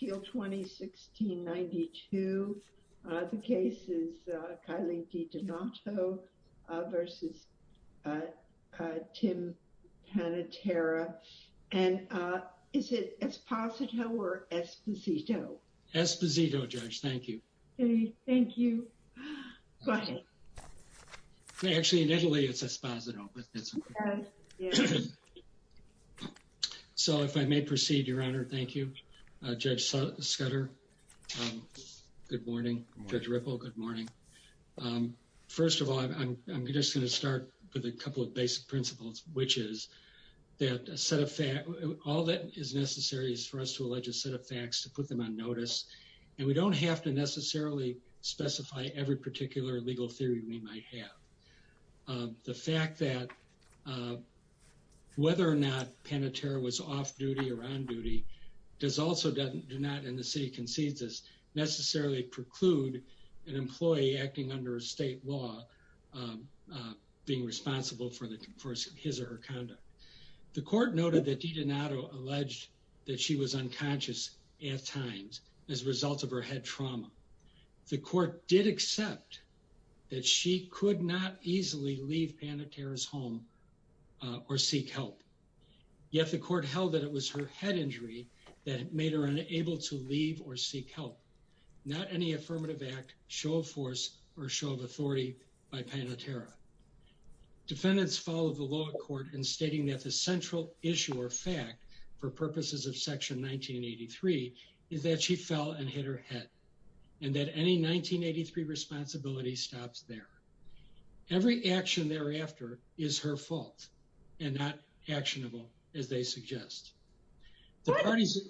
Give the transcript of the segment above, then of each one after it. and is it Esposito or Esposito? Esposito, Judge, thank you. Okay, thank you. Go ahead. Actually in Italy, it's Esposito, but that's okay. So if I may proceed, Your Honor, thank you. Judge Scudder, good morning. Judge Ripple, good morning. First of all, I'm just going to start with a couple of basic principles, which is that a set of facts, all that is necessary is for us to allege a set of facts to put them on notice, and we don't have to necessarily specify every particular legal theory we might have. The fact that whether or not Panatera was off duty or on duty does also do not, and the city concedes this, necessarily preclude an employee acting under a state law being responsible for his or her conduct. The court noted that Didonato alleged that she was unconscious at times as a result of her head trauma. The court did accept that she could not easily leave Panatera's home or seek help. Yet the court held that it was her head injury that made her unable to leave or seek help. Not any affirmative act, show of force, or show of authority by Panatera. Defendants follow the law court in stating that the central issue or fact for purposes of Section 1983 is that she fell and hit her head, and that any 1983 responsibility stops there. Every action thereafter is her fault and not actionable, as they suggest. The parties...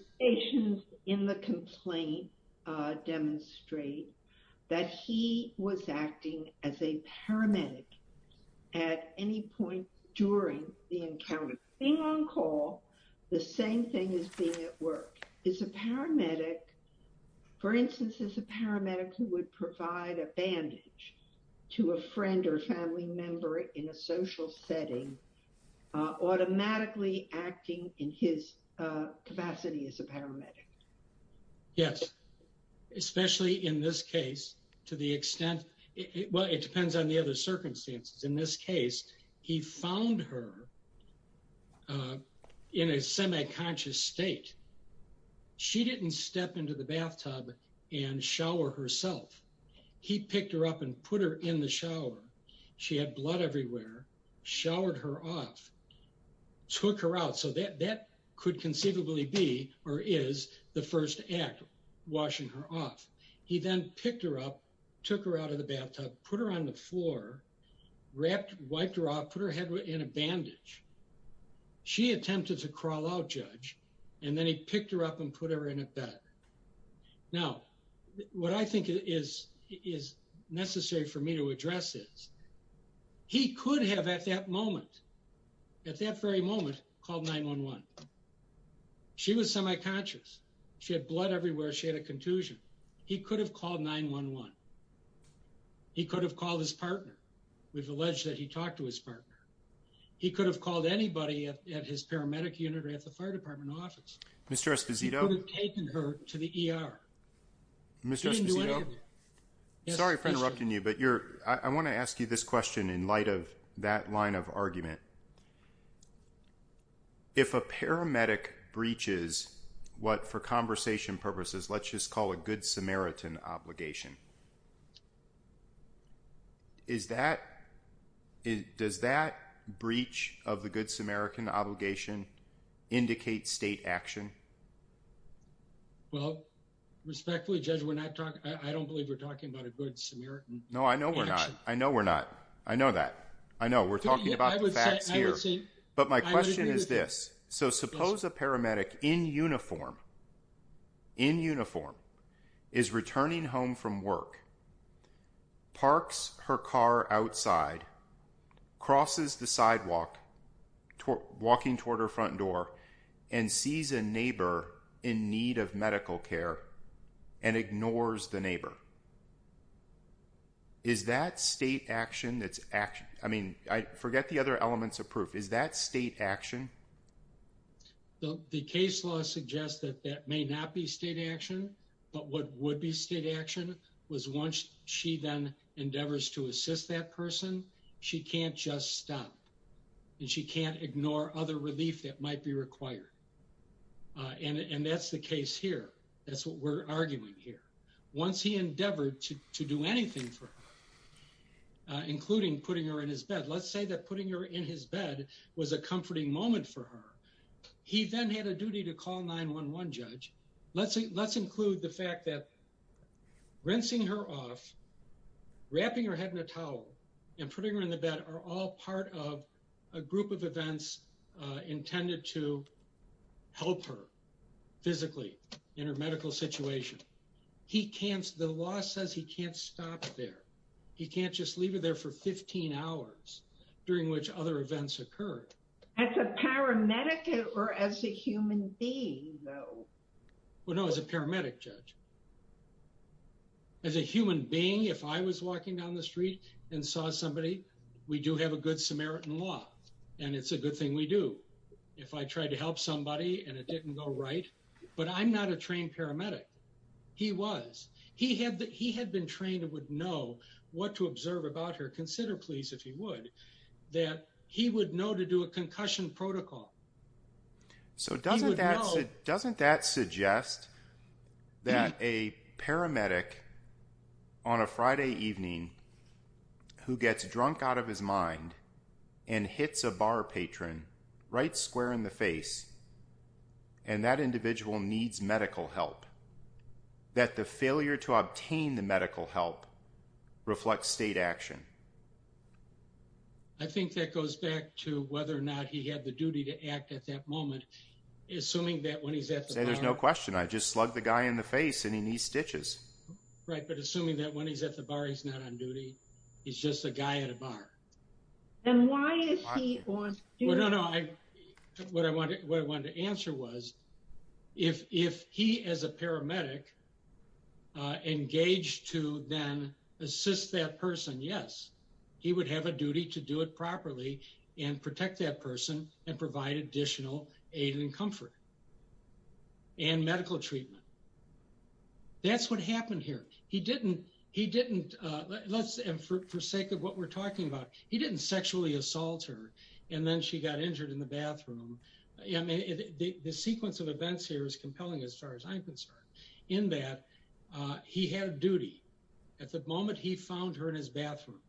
capacity as a paramedic. Yes. Especially in this case, to the extent... Well, it depends on the other circumstances. In this case, he found her in a semi-conscious state. She didn't step into the bathtub and shower herself. He picked her up and put her in the shower. She had blood everywhere, showered her off, took her out. So that could conceivably be or is the first act, washing her off. He then picked her up, took her out of the bathtub, put her on the floor, wrapped, wiped her off, put her head in a bandage. She attempted to crawl out, Judge, and then he picked her up and put her in a bed. Now, what I think is necessary for me to address is, he could have at that moment, at that very moment, called 911. She was semi-conscious. She had blood everywhere. She had a contusion. He could have called 911. He could have called his partner. We've alleged that he talked to his partner. He could have called anybody at his paramedic unit or at the fire department office. He could have taken her to the ER. He didn't do anything. Sorry for interrupting you, but I want to ask you this question in light of that line of argument. If a paramedic breaches what, for conversation purposes, let's just call a good Samaritan obligation, does that breach of the good Samaritan obligation indicate state action? Well, respectfully, Judge, I don't believe we're talking about a good Samaritan action. No, I know we're not. I know we're not. I know that. I know we're talking about the facts here. But my question is this. So suppose a paramedic in uniform, in uniform, is returning home from work, parks her car outside, crosses the sidewalk, walking toward her front door, and sees a neighbor in need of medical care and ignores the neighbor. Is that state action? I mean, I forget the other elements of proof. Is that state action? The case law suggests that that may not be state action, but what would be state action was once she then endeavors to assist that person, she can't just stop and she can't ignore other relief that might be required. And that's the case here. That's what we're arguing here. Once he endeavored to do anything for her, including putting her in his bed, let's say that putting her in his bed was a comforting moment for her. He then had a duty to call 911, Judge. Let's include the fact that rinsing her off, wrapping her head in a towel, and putting her in the bed are all part of a group of events intended to help her physically in her medical situation. The law says he can't stop there. He can't just leave her there for 15 hours during which other events occurred. As a paramedic or as a human being, though? Well, no, as a paramedic, Judge. As a human being, if I was walking down the street and saw somebody, we do have a good Samaritan law and it's a good thing we do. If I tried to help somebody and it didn't go right, but I'm not a trained paramedic. He was. He had been trained and would know what to observe about her. Consider, please, if he would, that he would know to do a concussion protocol. So doesn't that suggest that a paramedic on a Friday evening who gets drunk out of his mind and hits a bar patron right square in the face and that individual needs medical help, that the failure to obtain the medical help reflects state action? I think that goes back to whether or not he had the duty to act at that moment. Assuming that when he's at the bar... There's no question. I just slugged the guy in the face and he needs stitches. Right. But assuming that when he's at the bar, he's not on duty. He's just a guy at a bar. And why is he on duty? Well, no, no. What I wanted to answer was, if he as a paramedic engaged to then assist that person, yes, he would have a duty to do it properly and protect that person and provide additional aid and comfort and medical treatment. That's what happened here. He didn't. He didn't. Let's for sake of what we're talking about. He didn't sexually assault her and then she got injured in the bathroom. The sequence of events here is compelling as far as I'm concerned in that he had a duty. At the moment he found her in his bathroom,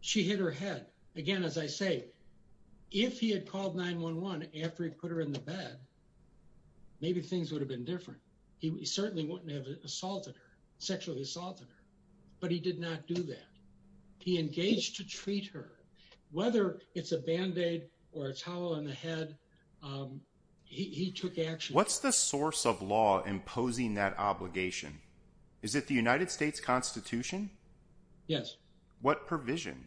she hit her head. Again, as I say, if he had called 911 after he put her in the bed, maybe things would have been different. He certainly wouldn't have assaulted her, sexually assaulted her, but he did not do that. He engaged to treat her, whether it's a band-aid or a towel on the head. He took action. What's the source of law imposing that obligation? Is it the United States Constitution? Yes. What provision?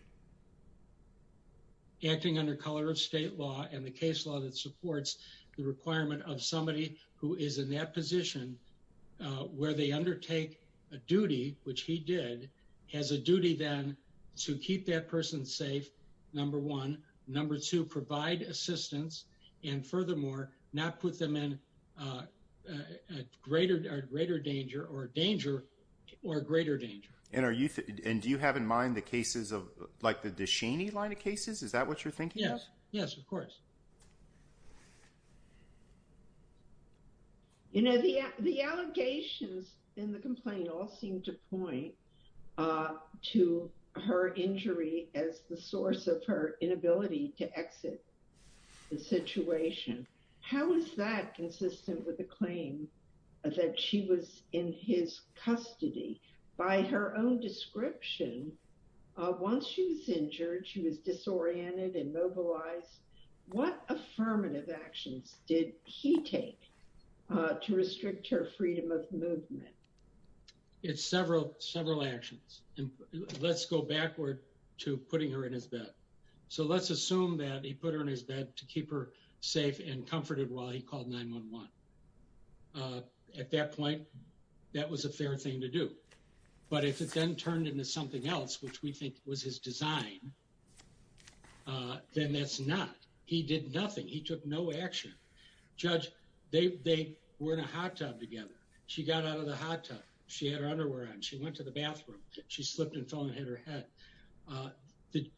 Acting under color of state law and the case law that supports the requirement of somebody who is in that position where they undertake a duty, which he did, has a duty then to keep that person safe, number one. Number two, provide assistance and furthermore, not put them in a greater danger or danger or greater danger. Do you have in mind the cases of like the DeShaney line of cases? Is that what you're thinking? Yes, of course. The allegations in the complaint all seem to point to her injury as the source of her inability to exit the situation. How is that consistent with the claim that she was in his custody? By her own description, once she was injured, she was disoriented and mobilized. What affirmative actions did he take to restrict her freedom of movement? Several actions. Let's go backward to putting her in his bed. Let's assume that he put her in his bed to keep her safe and comforted while he called 911. At that point, that was a fair thing to do. But if it then turned into something else, which we think was his design, then that's not. He did nothing. He took no action. Judge, they were in a hot tub together. She got out of the hot tub. She had her underwear on. She went to the bathroom. She slipped and fell and hit her head.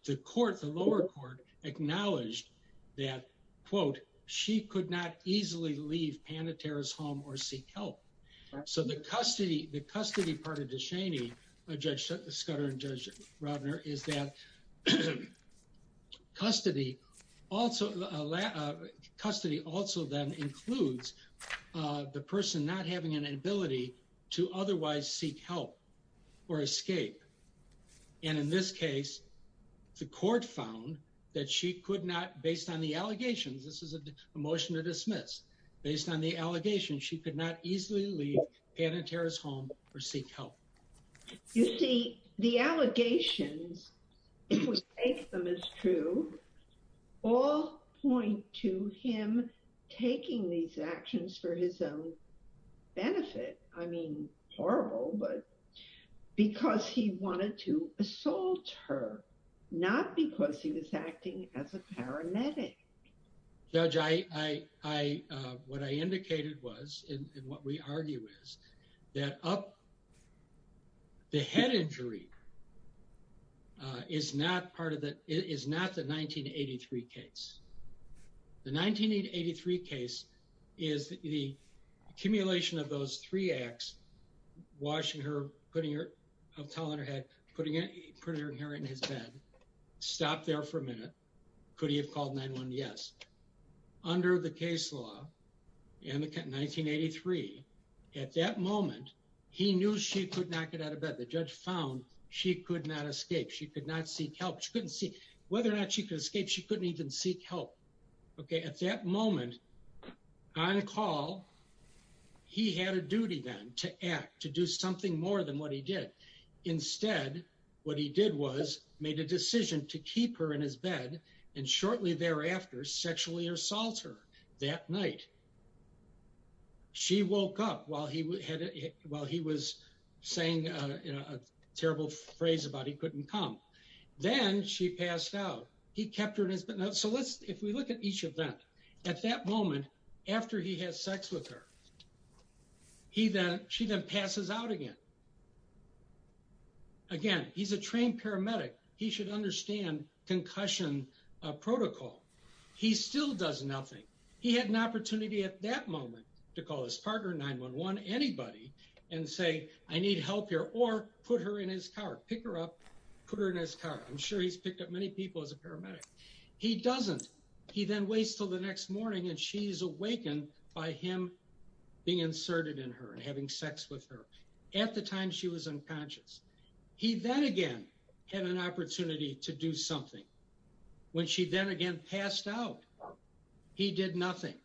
The court, the lower court, acknowledged that, quote, she could not easily leave Panatera's home or seek help. So the custody part of DeShaney, Judge Scudder and Judge Robner, is that custody also then includes the person not having an ability to otherwise seek help or escape. And in this case, the court found that she could not, based on the allegations, this is a motion to dismiss, based on the allegations, she could not easily leave Panatera's home or seek help. You see, the allegations, if we take them as true, all point to him taking these actions for his own benefit. I mean, horrible, but because he wanted to assault her, not because he was acting as a paramedic. Judge, what I indicated was, and what we argue is, that the head injury is not the 1983 case. The 1983 case is the accumulation of those three acts, washing her, putting her towel on her head, putting her hair in his bed, stopped there for a minute. Could he have called 911? Yes. Under the case law in 1983, at that moment, he knew she could not get out of bed. The judge found she could not escape. She could not seek help. Whether or not she could escape, she couldn't even seek help. At that moment, on call, he had a duty then to act, to do something more than what he did. Instead, what he did was made a decision to keep her in his bed and shortly thereafter, sexually assault her that night. She woke up while he was saying a terrible phrase about he couldn't come. Then she passed out. He kept her in his bed. If we look at each of them, at that moment, after he has sex with her, she then passes out again. Again, he's a trained paramedic. He should understand concussion protocol. He still does nothing. He had an opportunity at that moment to call his partner, 911, anybody, and say, I need help here, or put her in his car. Pick her up, put her in his car. I'm sure he's picked up many people as a paramedic. He doesn't. He then waits until the next morning and she's awakened by him being inserted in her and having sex with her at the time she was unconscious. He then again had an opportunity to do something. When she then again passed out, he did nothing.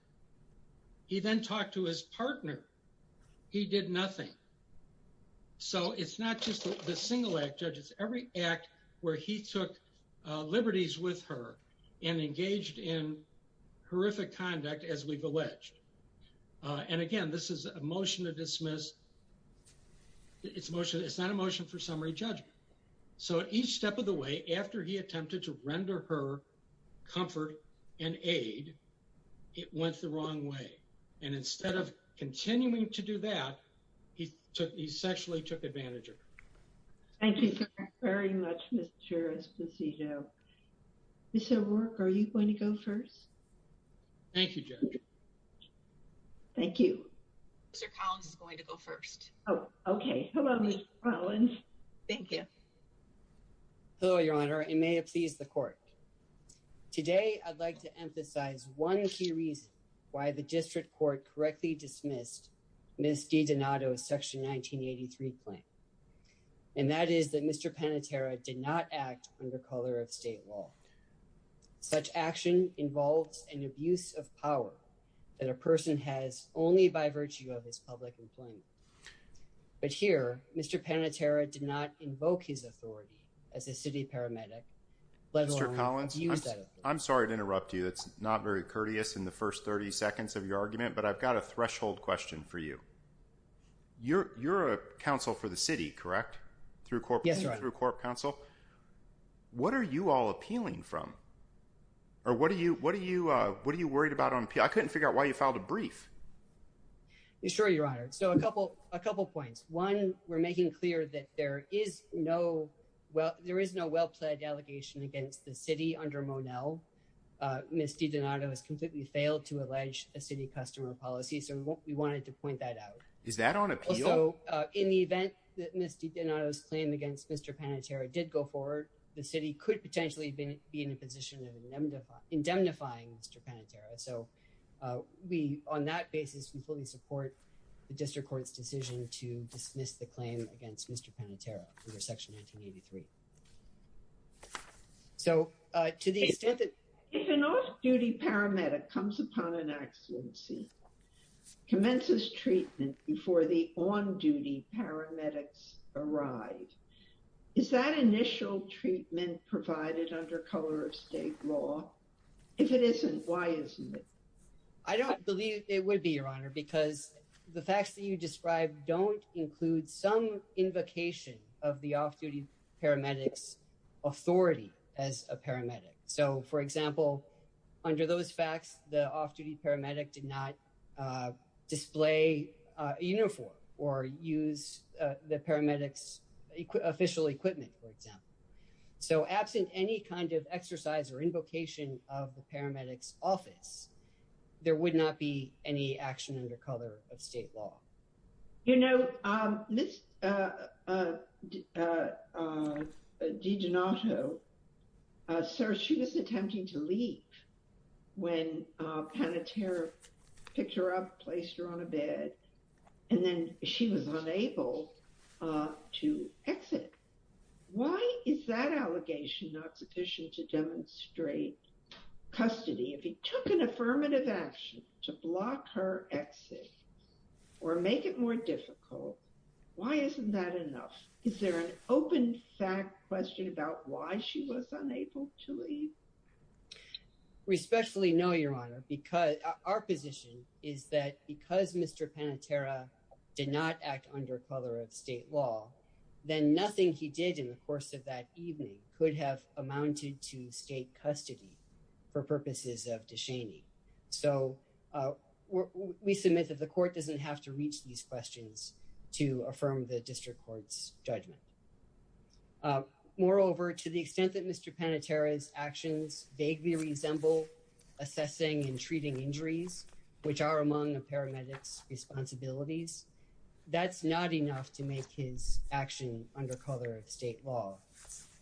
He then talked to his partner. He did nothing. So it's not just the single act, judges. Every act where he took liberties with her and engaged in horrific conduct, as we've alleged. And again, this is a motion to dismiss. It's not a motion for summary judgment. So at each step of the way, after he attempted to render her comfort and aid, it went the wrong way. And instead of continuing to do that, he sexually took advantage of her. Thank you very much, Mr. Esposito. Ms. O'Rourke, are you going to go first? Thank you, Judge. Thank you. Mr. Collins is going to go first. Oh, okay. Hello, Ms. Collins. Thank you. Hello, Your Honor, and may it please the court. Today, I'd like to emphasize one key reason why the district court correctly dismissed Ms. DiDonato's Section 1983 claim. And that is that Mr. Panitera did not act under color of state law. Such action involves an abuse of power that a person has only by virtue of his public employment. But here, Mr. Panitera did not invoke his authority as a city paramedic, let alone use that authority. Mr. Collins, I'm sorry to interrupt you. That's not very courteous in the first 30 seconds of your argument, but I've got a threshold question for you. You're a counsel for the city, correct? Yes, Your Honor. Through corp counsel. What are you all appealing from? Or what are you worried about on appeal? I couldn't figure out why you filed a brief. Sure, Your Honor. So a couple points. One, we're making clear that there is no well-pledged allegation against the city under Monell. Ms. DiDonato has completely failed to allege a city customer policy, so we wanted to point that out. Is that on appeal? Also, in the event that Ms. DiDonato's claim against Mr. Panitera did go forward, the city could potentially be in a position of indemnifying Mr. Panitera. So on that basis, we fully support the district court's decision to dismiss the claim against Mr. Panitera under Section 1983. So to the extent that... If an off-duty paramedic comes upon an accidency, commences treatment before the on-duty paramedics arrive, is that initial treatment provided under color of state law? If it isn't, why isn't it? I don't believe it would be, Your Honor, because the facts that you describe don't include some invocation of the off-duty paramedic's authority as a paramedic. So, for example, under those facts, the off-duty paramedic did not display a uniform or use the paramedic's official equipment, for example. So absent any kind of exercise or invocation of the paramedic's office, there would not be any action under color of state law. You know, Ms. DiDonato, sir, she was attempting to leave when Panitera picked her up, placed her on a bed, and then she was unable to exit. Why is that allegation not sufficient to demonstrate custody? If he took an affirmative action to block her exit or make it more difficult, why isn't that enough? Is there an open fact question about why she was unable to leave? We especially know, Your Honor, because our position is that because Mr. Panitera did not act under color of state law, then nothing he did in the course of that evening could have amounted to state custody for purposes of de shaming. So we submit that the court doesn't have to reach these questions to affirm the district court's judgment. Moreover, to the extent that Mr. Panitera's actions vaguely resemble assessing and treating injuries, which are among a paramedic's responsibilities, that's not enough to make his action under color of state law.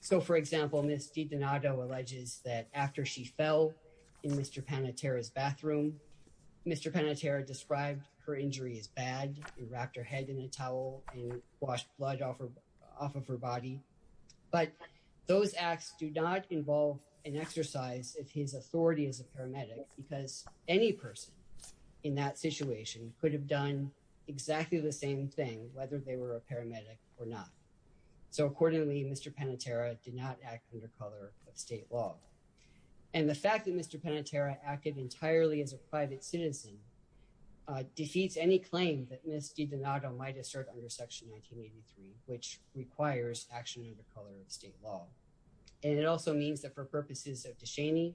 So, for example, Ms. DiDonato alleges that after she fell in Mr. Panitera's bathroom, Mr. Panitera described her injury as bad. He wrapped her head in a towel and washed blood off of her body. But those acts do not involve an exercise of his authority as a paramedic because any person in that situation could have done exactly the same thing, whether they were a paramedic or not. So accordingly, Mr. Panitera did not act under color of state law. And the fact that Mr. Panitera acted entirely as a private citizen defeats any claim that Ms. DiDonato might assert under Section 1983, which requires action under color of state law. And it also means that for purposes of Dushani,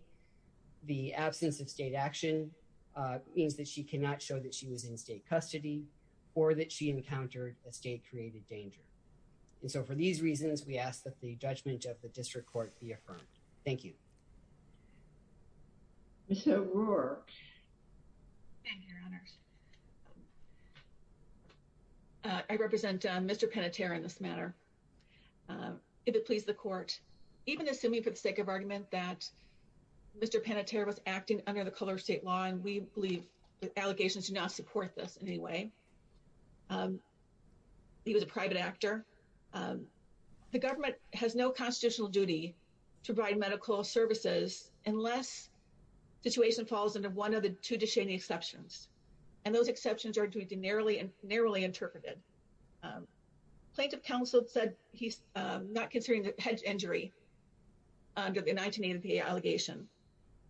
the absence of state action means that she cannot show that she was in state custody or that she encountered a state-created danger. And so for these reasons, we ask that the judgment of the District Court be affirmed. Thank you. Ms. O'Rourke. Thank you, Your Honors. I represent Mr. Panitera in this matter. If it please the Court, even assuming for the sake of argument that Mr. Panitera was acting under the color of state law, and we believe the allegations do not support this in any way. He was a private actor. The government has no constitutional duty to provide medical services unless the situation falls under one of the two Dushani exceptions. And those exceptions are generally and narrowly interpreted. Plaintiff counsel said he's not considering the head injury under the 1983 allegation.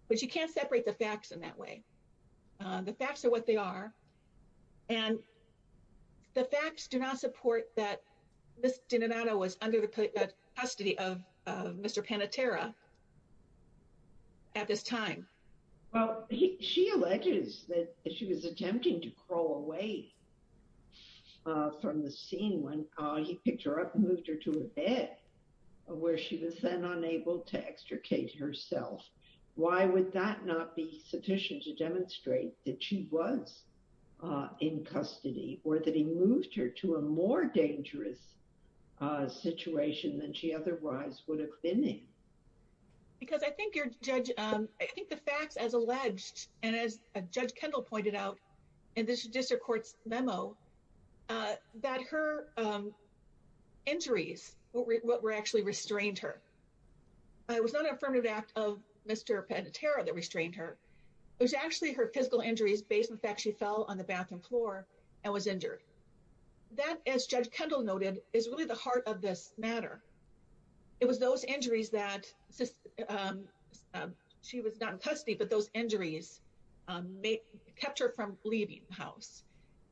But you can't separate the facts in that way. The facts are what they are. And the facts do not support that Ms. DiNinato was under the custody of Mr. Panitera at this time. Well, she alleges that she was attempting to crawl away from the scene when he picked her up and moved her to a bed where she was then unable to extricate herself. Why would that not be sufficient to demonstrate that she was in custody or that he moved her to a more dangerous situation than she otherwise would have been in? Because I think the facts as alleged and as Judge Kendall pointed out in this district court's memo that her injuries were actually restrained her. It was not an affirmative act of Mr. Panitera that restrained her. It was actually her physical injuries based on the fact she fell on the bathroom floor and was injured. That, as Judge Kendall noted, is really the heart of this matter. It was those injuries that she was not in custody but those injuries kept her from leaving the house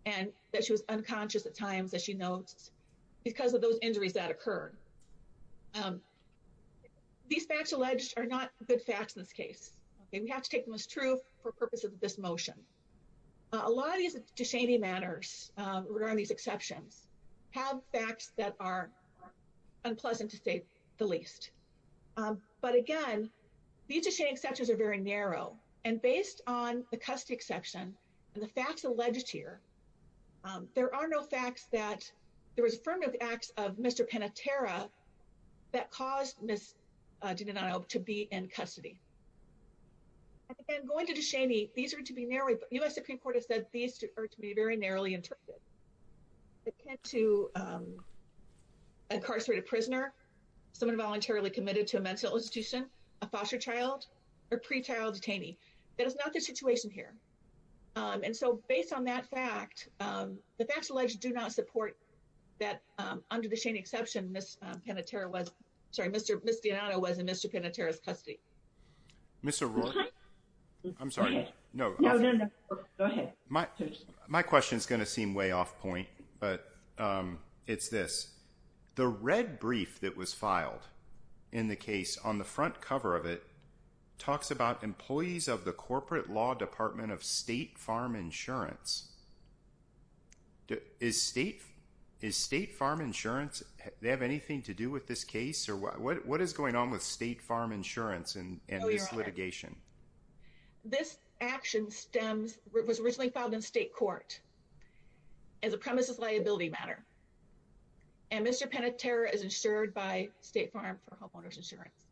and that she was unconscious at times, as she notes, because of those injuries that occurred. These facts alleged are not good facts in this case. We have to take them as true for purposes of this motion. A lot of these disdaining matters regarding these exceptions have facts that are unpleasant to say the least. But again, these disdaining exceptions are very narrow. Based on the custody exception and the facts alleged here, there are no facts that there was an affirmative act of Mr. Panitera that caused Ms. DiDonato to be in custody. Again, going to disdaining, these are to be narrowly, the U.S. Supreme Court has said these are to be very narrowly interpreted. To an incarcerated prisoner, someone voluntarily committed to a mental institution, a foster child or pre-child detainee. That is not the situation here. And so based on that fact, the facts alleged do not support that under the shaming exception Ms. Panitera was, sorry, Ms. DiDonato was in Mr. Panitera's custody. Ms. O'Rourke, I'm sorry. No, no, no, go ahead. My question is going to seem way off point, but it's this. The red brief that was filed in the case on the front cover of it talks about employees of the Corporate Law Department of State Farm Insurance. Is State Farm Insurance, they have anything to do with this case or what is going on with State Farm Insurance and this litigation? This action stems, was originally filed in state court as a premises liability matter. And Mr. Panitera is insured by State Farm for Homeowners Insurance.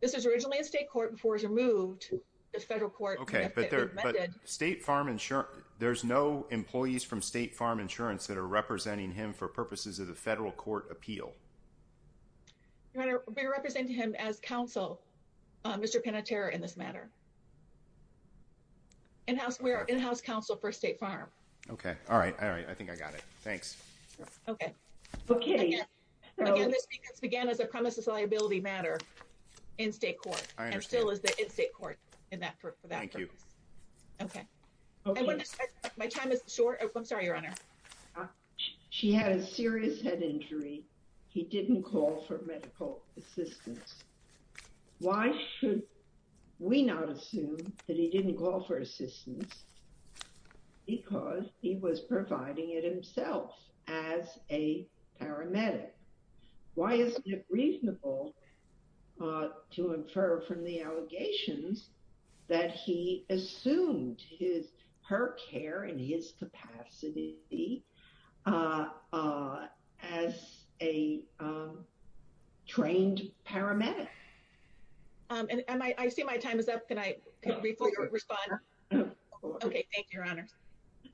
This was originally in state court before it was removed by the federal court. Okay, but State Farm Insurance, there's no employees from State Farm Insurance that are representing him for purposes of the federal court appeal. We represent him as counsel, Mr. Panitera in this matter. We are in-house counsel for State Farm. Okay, all right, all right. I think I got it. Thanks. Okay. Okay. Again, this case began as a premises liability matter in state court. I understand. And still is in state court for that purpose. Thank you. Okay. My time is short. I'm sorry, Your Honor. He didn't call for medical assistance. Why should we not assume that he didn't call for assistance because he was providing it himself as a paramedic? Why isn't it reasonable to infer from the allegations that he assumed her care and his capacity as a trained paramedic? I see my time is up. Can I briefly respond? Okay, thank you, Your Honor.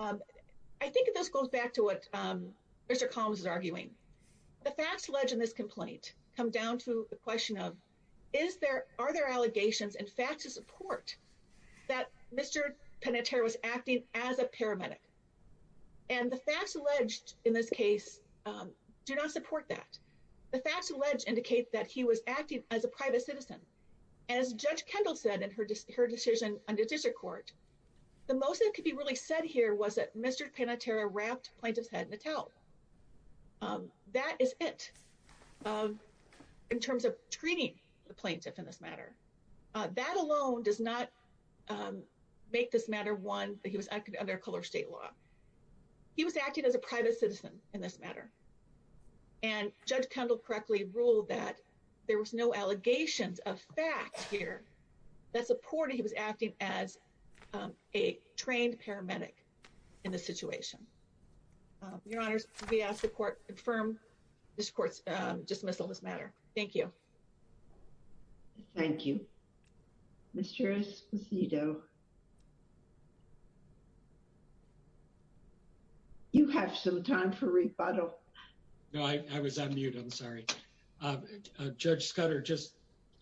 I think this goes back to what Mr. Collins is arguing. The facts alleged in this complaint come down to the question of are there allegations and facts of support that Mr. Panitera was acting as a paramedic? And the facts alleged in this case do not support that. The facts alleged indicate that he was acting as a private citizen. As Judge Kendall said in her decision on the district court, the most that could be really said here was that Mr. Panitera wrapped the plaintiff's head in a towel. That is it in terms of treating the plaintiff in this matter. That alone does not make this matter one that he was acting under a color of state law. He was acting as a private citizen in this matter. And Judge Kendall correctly ruled that there was no allegations of facts here that supported he was acting as a trained paramedic in this situation. Your Honors, we ask the court to confirm this court's dismissal of this matter. Thank you. Thank you. Mr. Esposito, you have some time for rebuttal. No, I was on mute. I'm sorry. Judge Scudder, just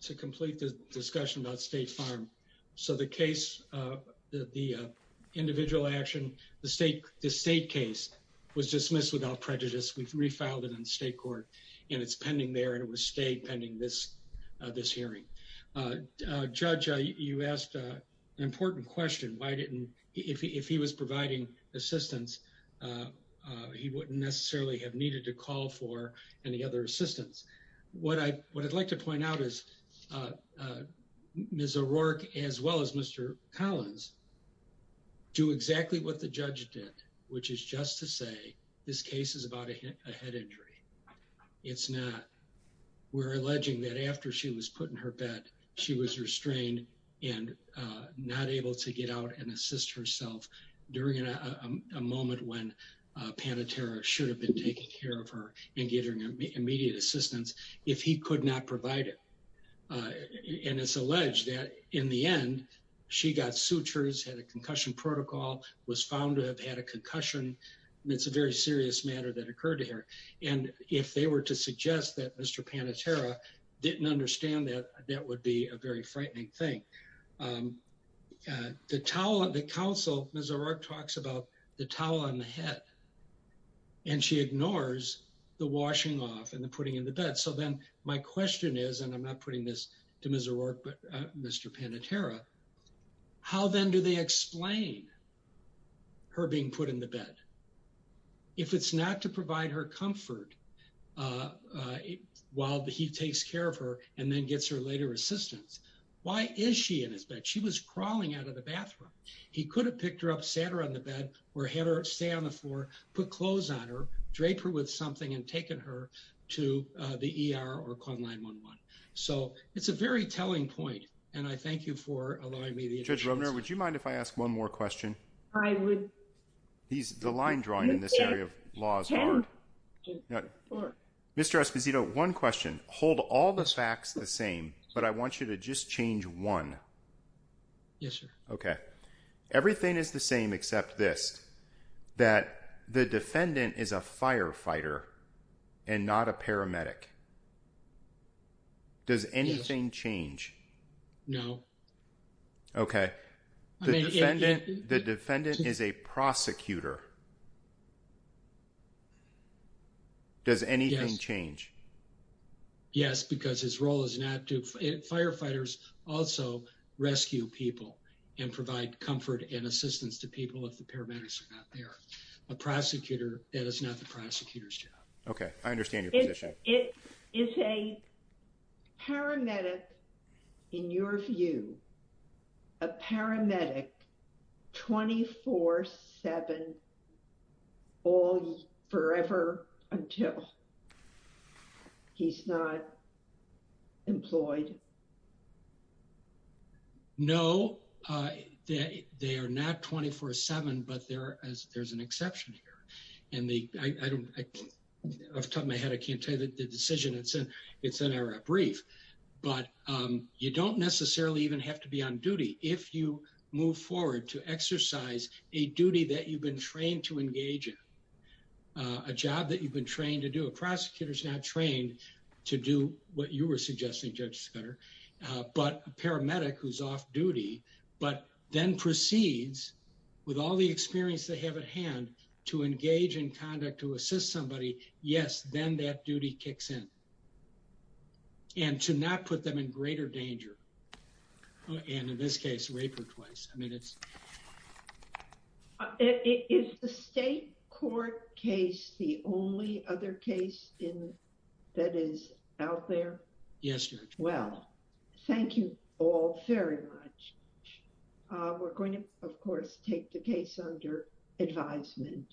to complete the discussion about State Farm. So the case, the individual action, the state case was dismissed without prejudice. We've refiled it in state court and it's pending there and it will stay pending this hearing. Judge, you asked an important question. Why didn't, if he was providing assistance, he wouldn't necessarily have needed to call for any other assistance. What I'd like to point out is Ms. O'Rourke, as well as Mr. Collins, do exactly what the judge did, which is just to say this case is about a head injury. It's not. We're alleging that after she was put in her bed, she was restrained and not able to get out and assist herself during a moment when Panatera should have been taking care of her and getting immediate assistance if he could not provide it and it's alleged that in the end, she got sutures, had a concussion protocol, was found to have had a concussion. It's a very serious matter that occurred to her and if they were to suggest that Mr. Panatera didn't understand that, that would be a very frightening thing. The towel, the counsel, Ms. O'Rourke talks about the towel on the head and she ignores the washing off and the putting in the bed. So then my question is, and I'm not putting this to Ms. O'Rourke but Mr. Panatera, how then do they explain her being put in the bed if it's not to provide her comfort while he takes care of her and then gets her later assistance? Why is she in his bed? She was crawling out of the bathroom. He could have picked her up, sat her on the bed or had her stay on the floor, put clothes on her, draped her with something and taken her to the ER or called 911. So it's a very telling point and I thank you for allowing me the opportunity. Judge Romner, would you mind if I ask one more question? I would. The line drawing in this area of law is hard. Mr. Esposito, one question. Hold all the facts the same but I want you to just change one. Yes, sir. Okay. Everything is the same except this, that the defendant is a firefighter and not a paramedic. Does anything change? No. Okay. The defendant is a prosecutor. Does anything change? Yes, because his role is not to... Firefighters also rescue people and provide comfort and assistance to people if the paramedics are not there. A prosecutor, that is not the prosecutor's job. Okay. I understand your position. It is a paramedic in your view, a paramedic 24-7 forever until he's not employed? No. They are not 24-7 but there's an exception here. Off the top of my head, I can't tell you the decision it's in, it's in our brief, but you don't necessarily even have to be on duty if you move forward to exercise a duty that you've been trained to engage in, a job that you've been trained to do. A prosecutor's not trained to do what you were suggesting, Judge Scudder, but a paramedic who's off duty but then proceeds with all the experience they have at hand to engage in conduct to assist somebody, yes, then that duty kicks in and to not put them in greater danger and in this case rape her twice. I mean, it's... Is the State Court case the only other case that is out there? Yes, Judge. Well, thank you all very much. We're going to, of course, take the case under advisement.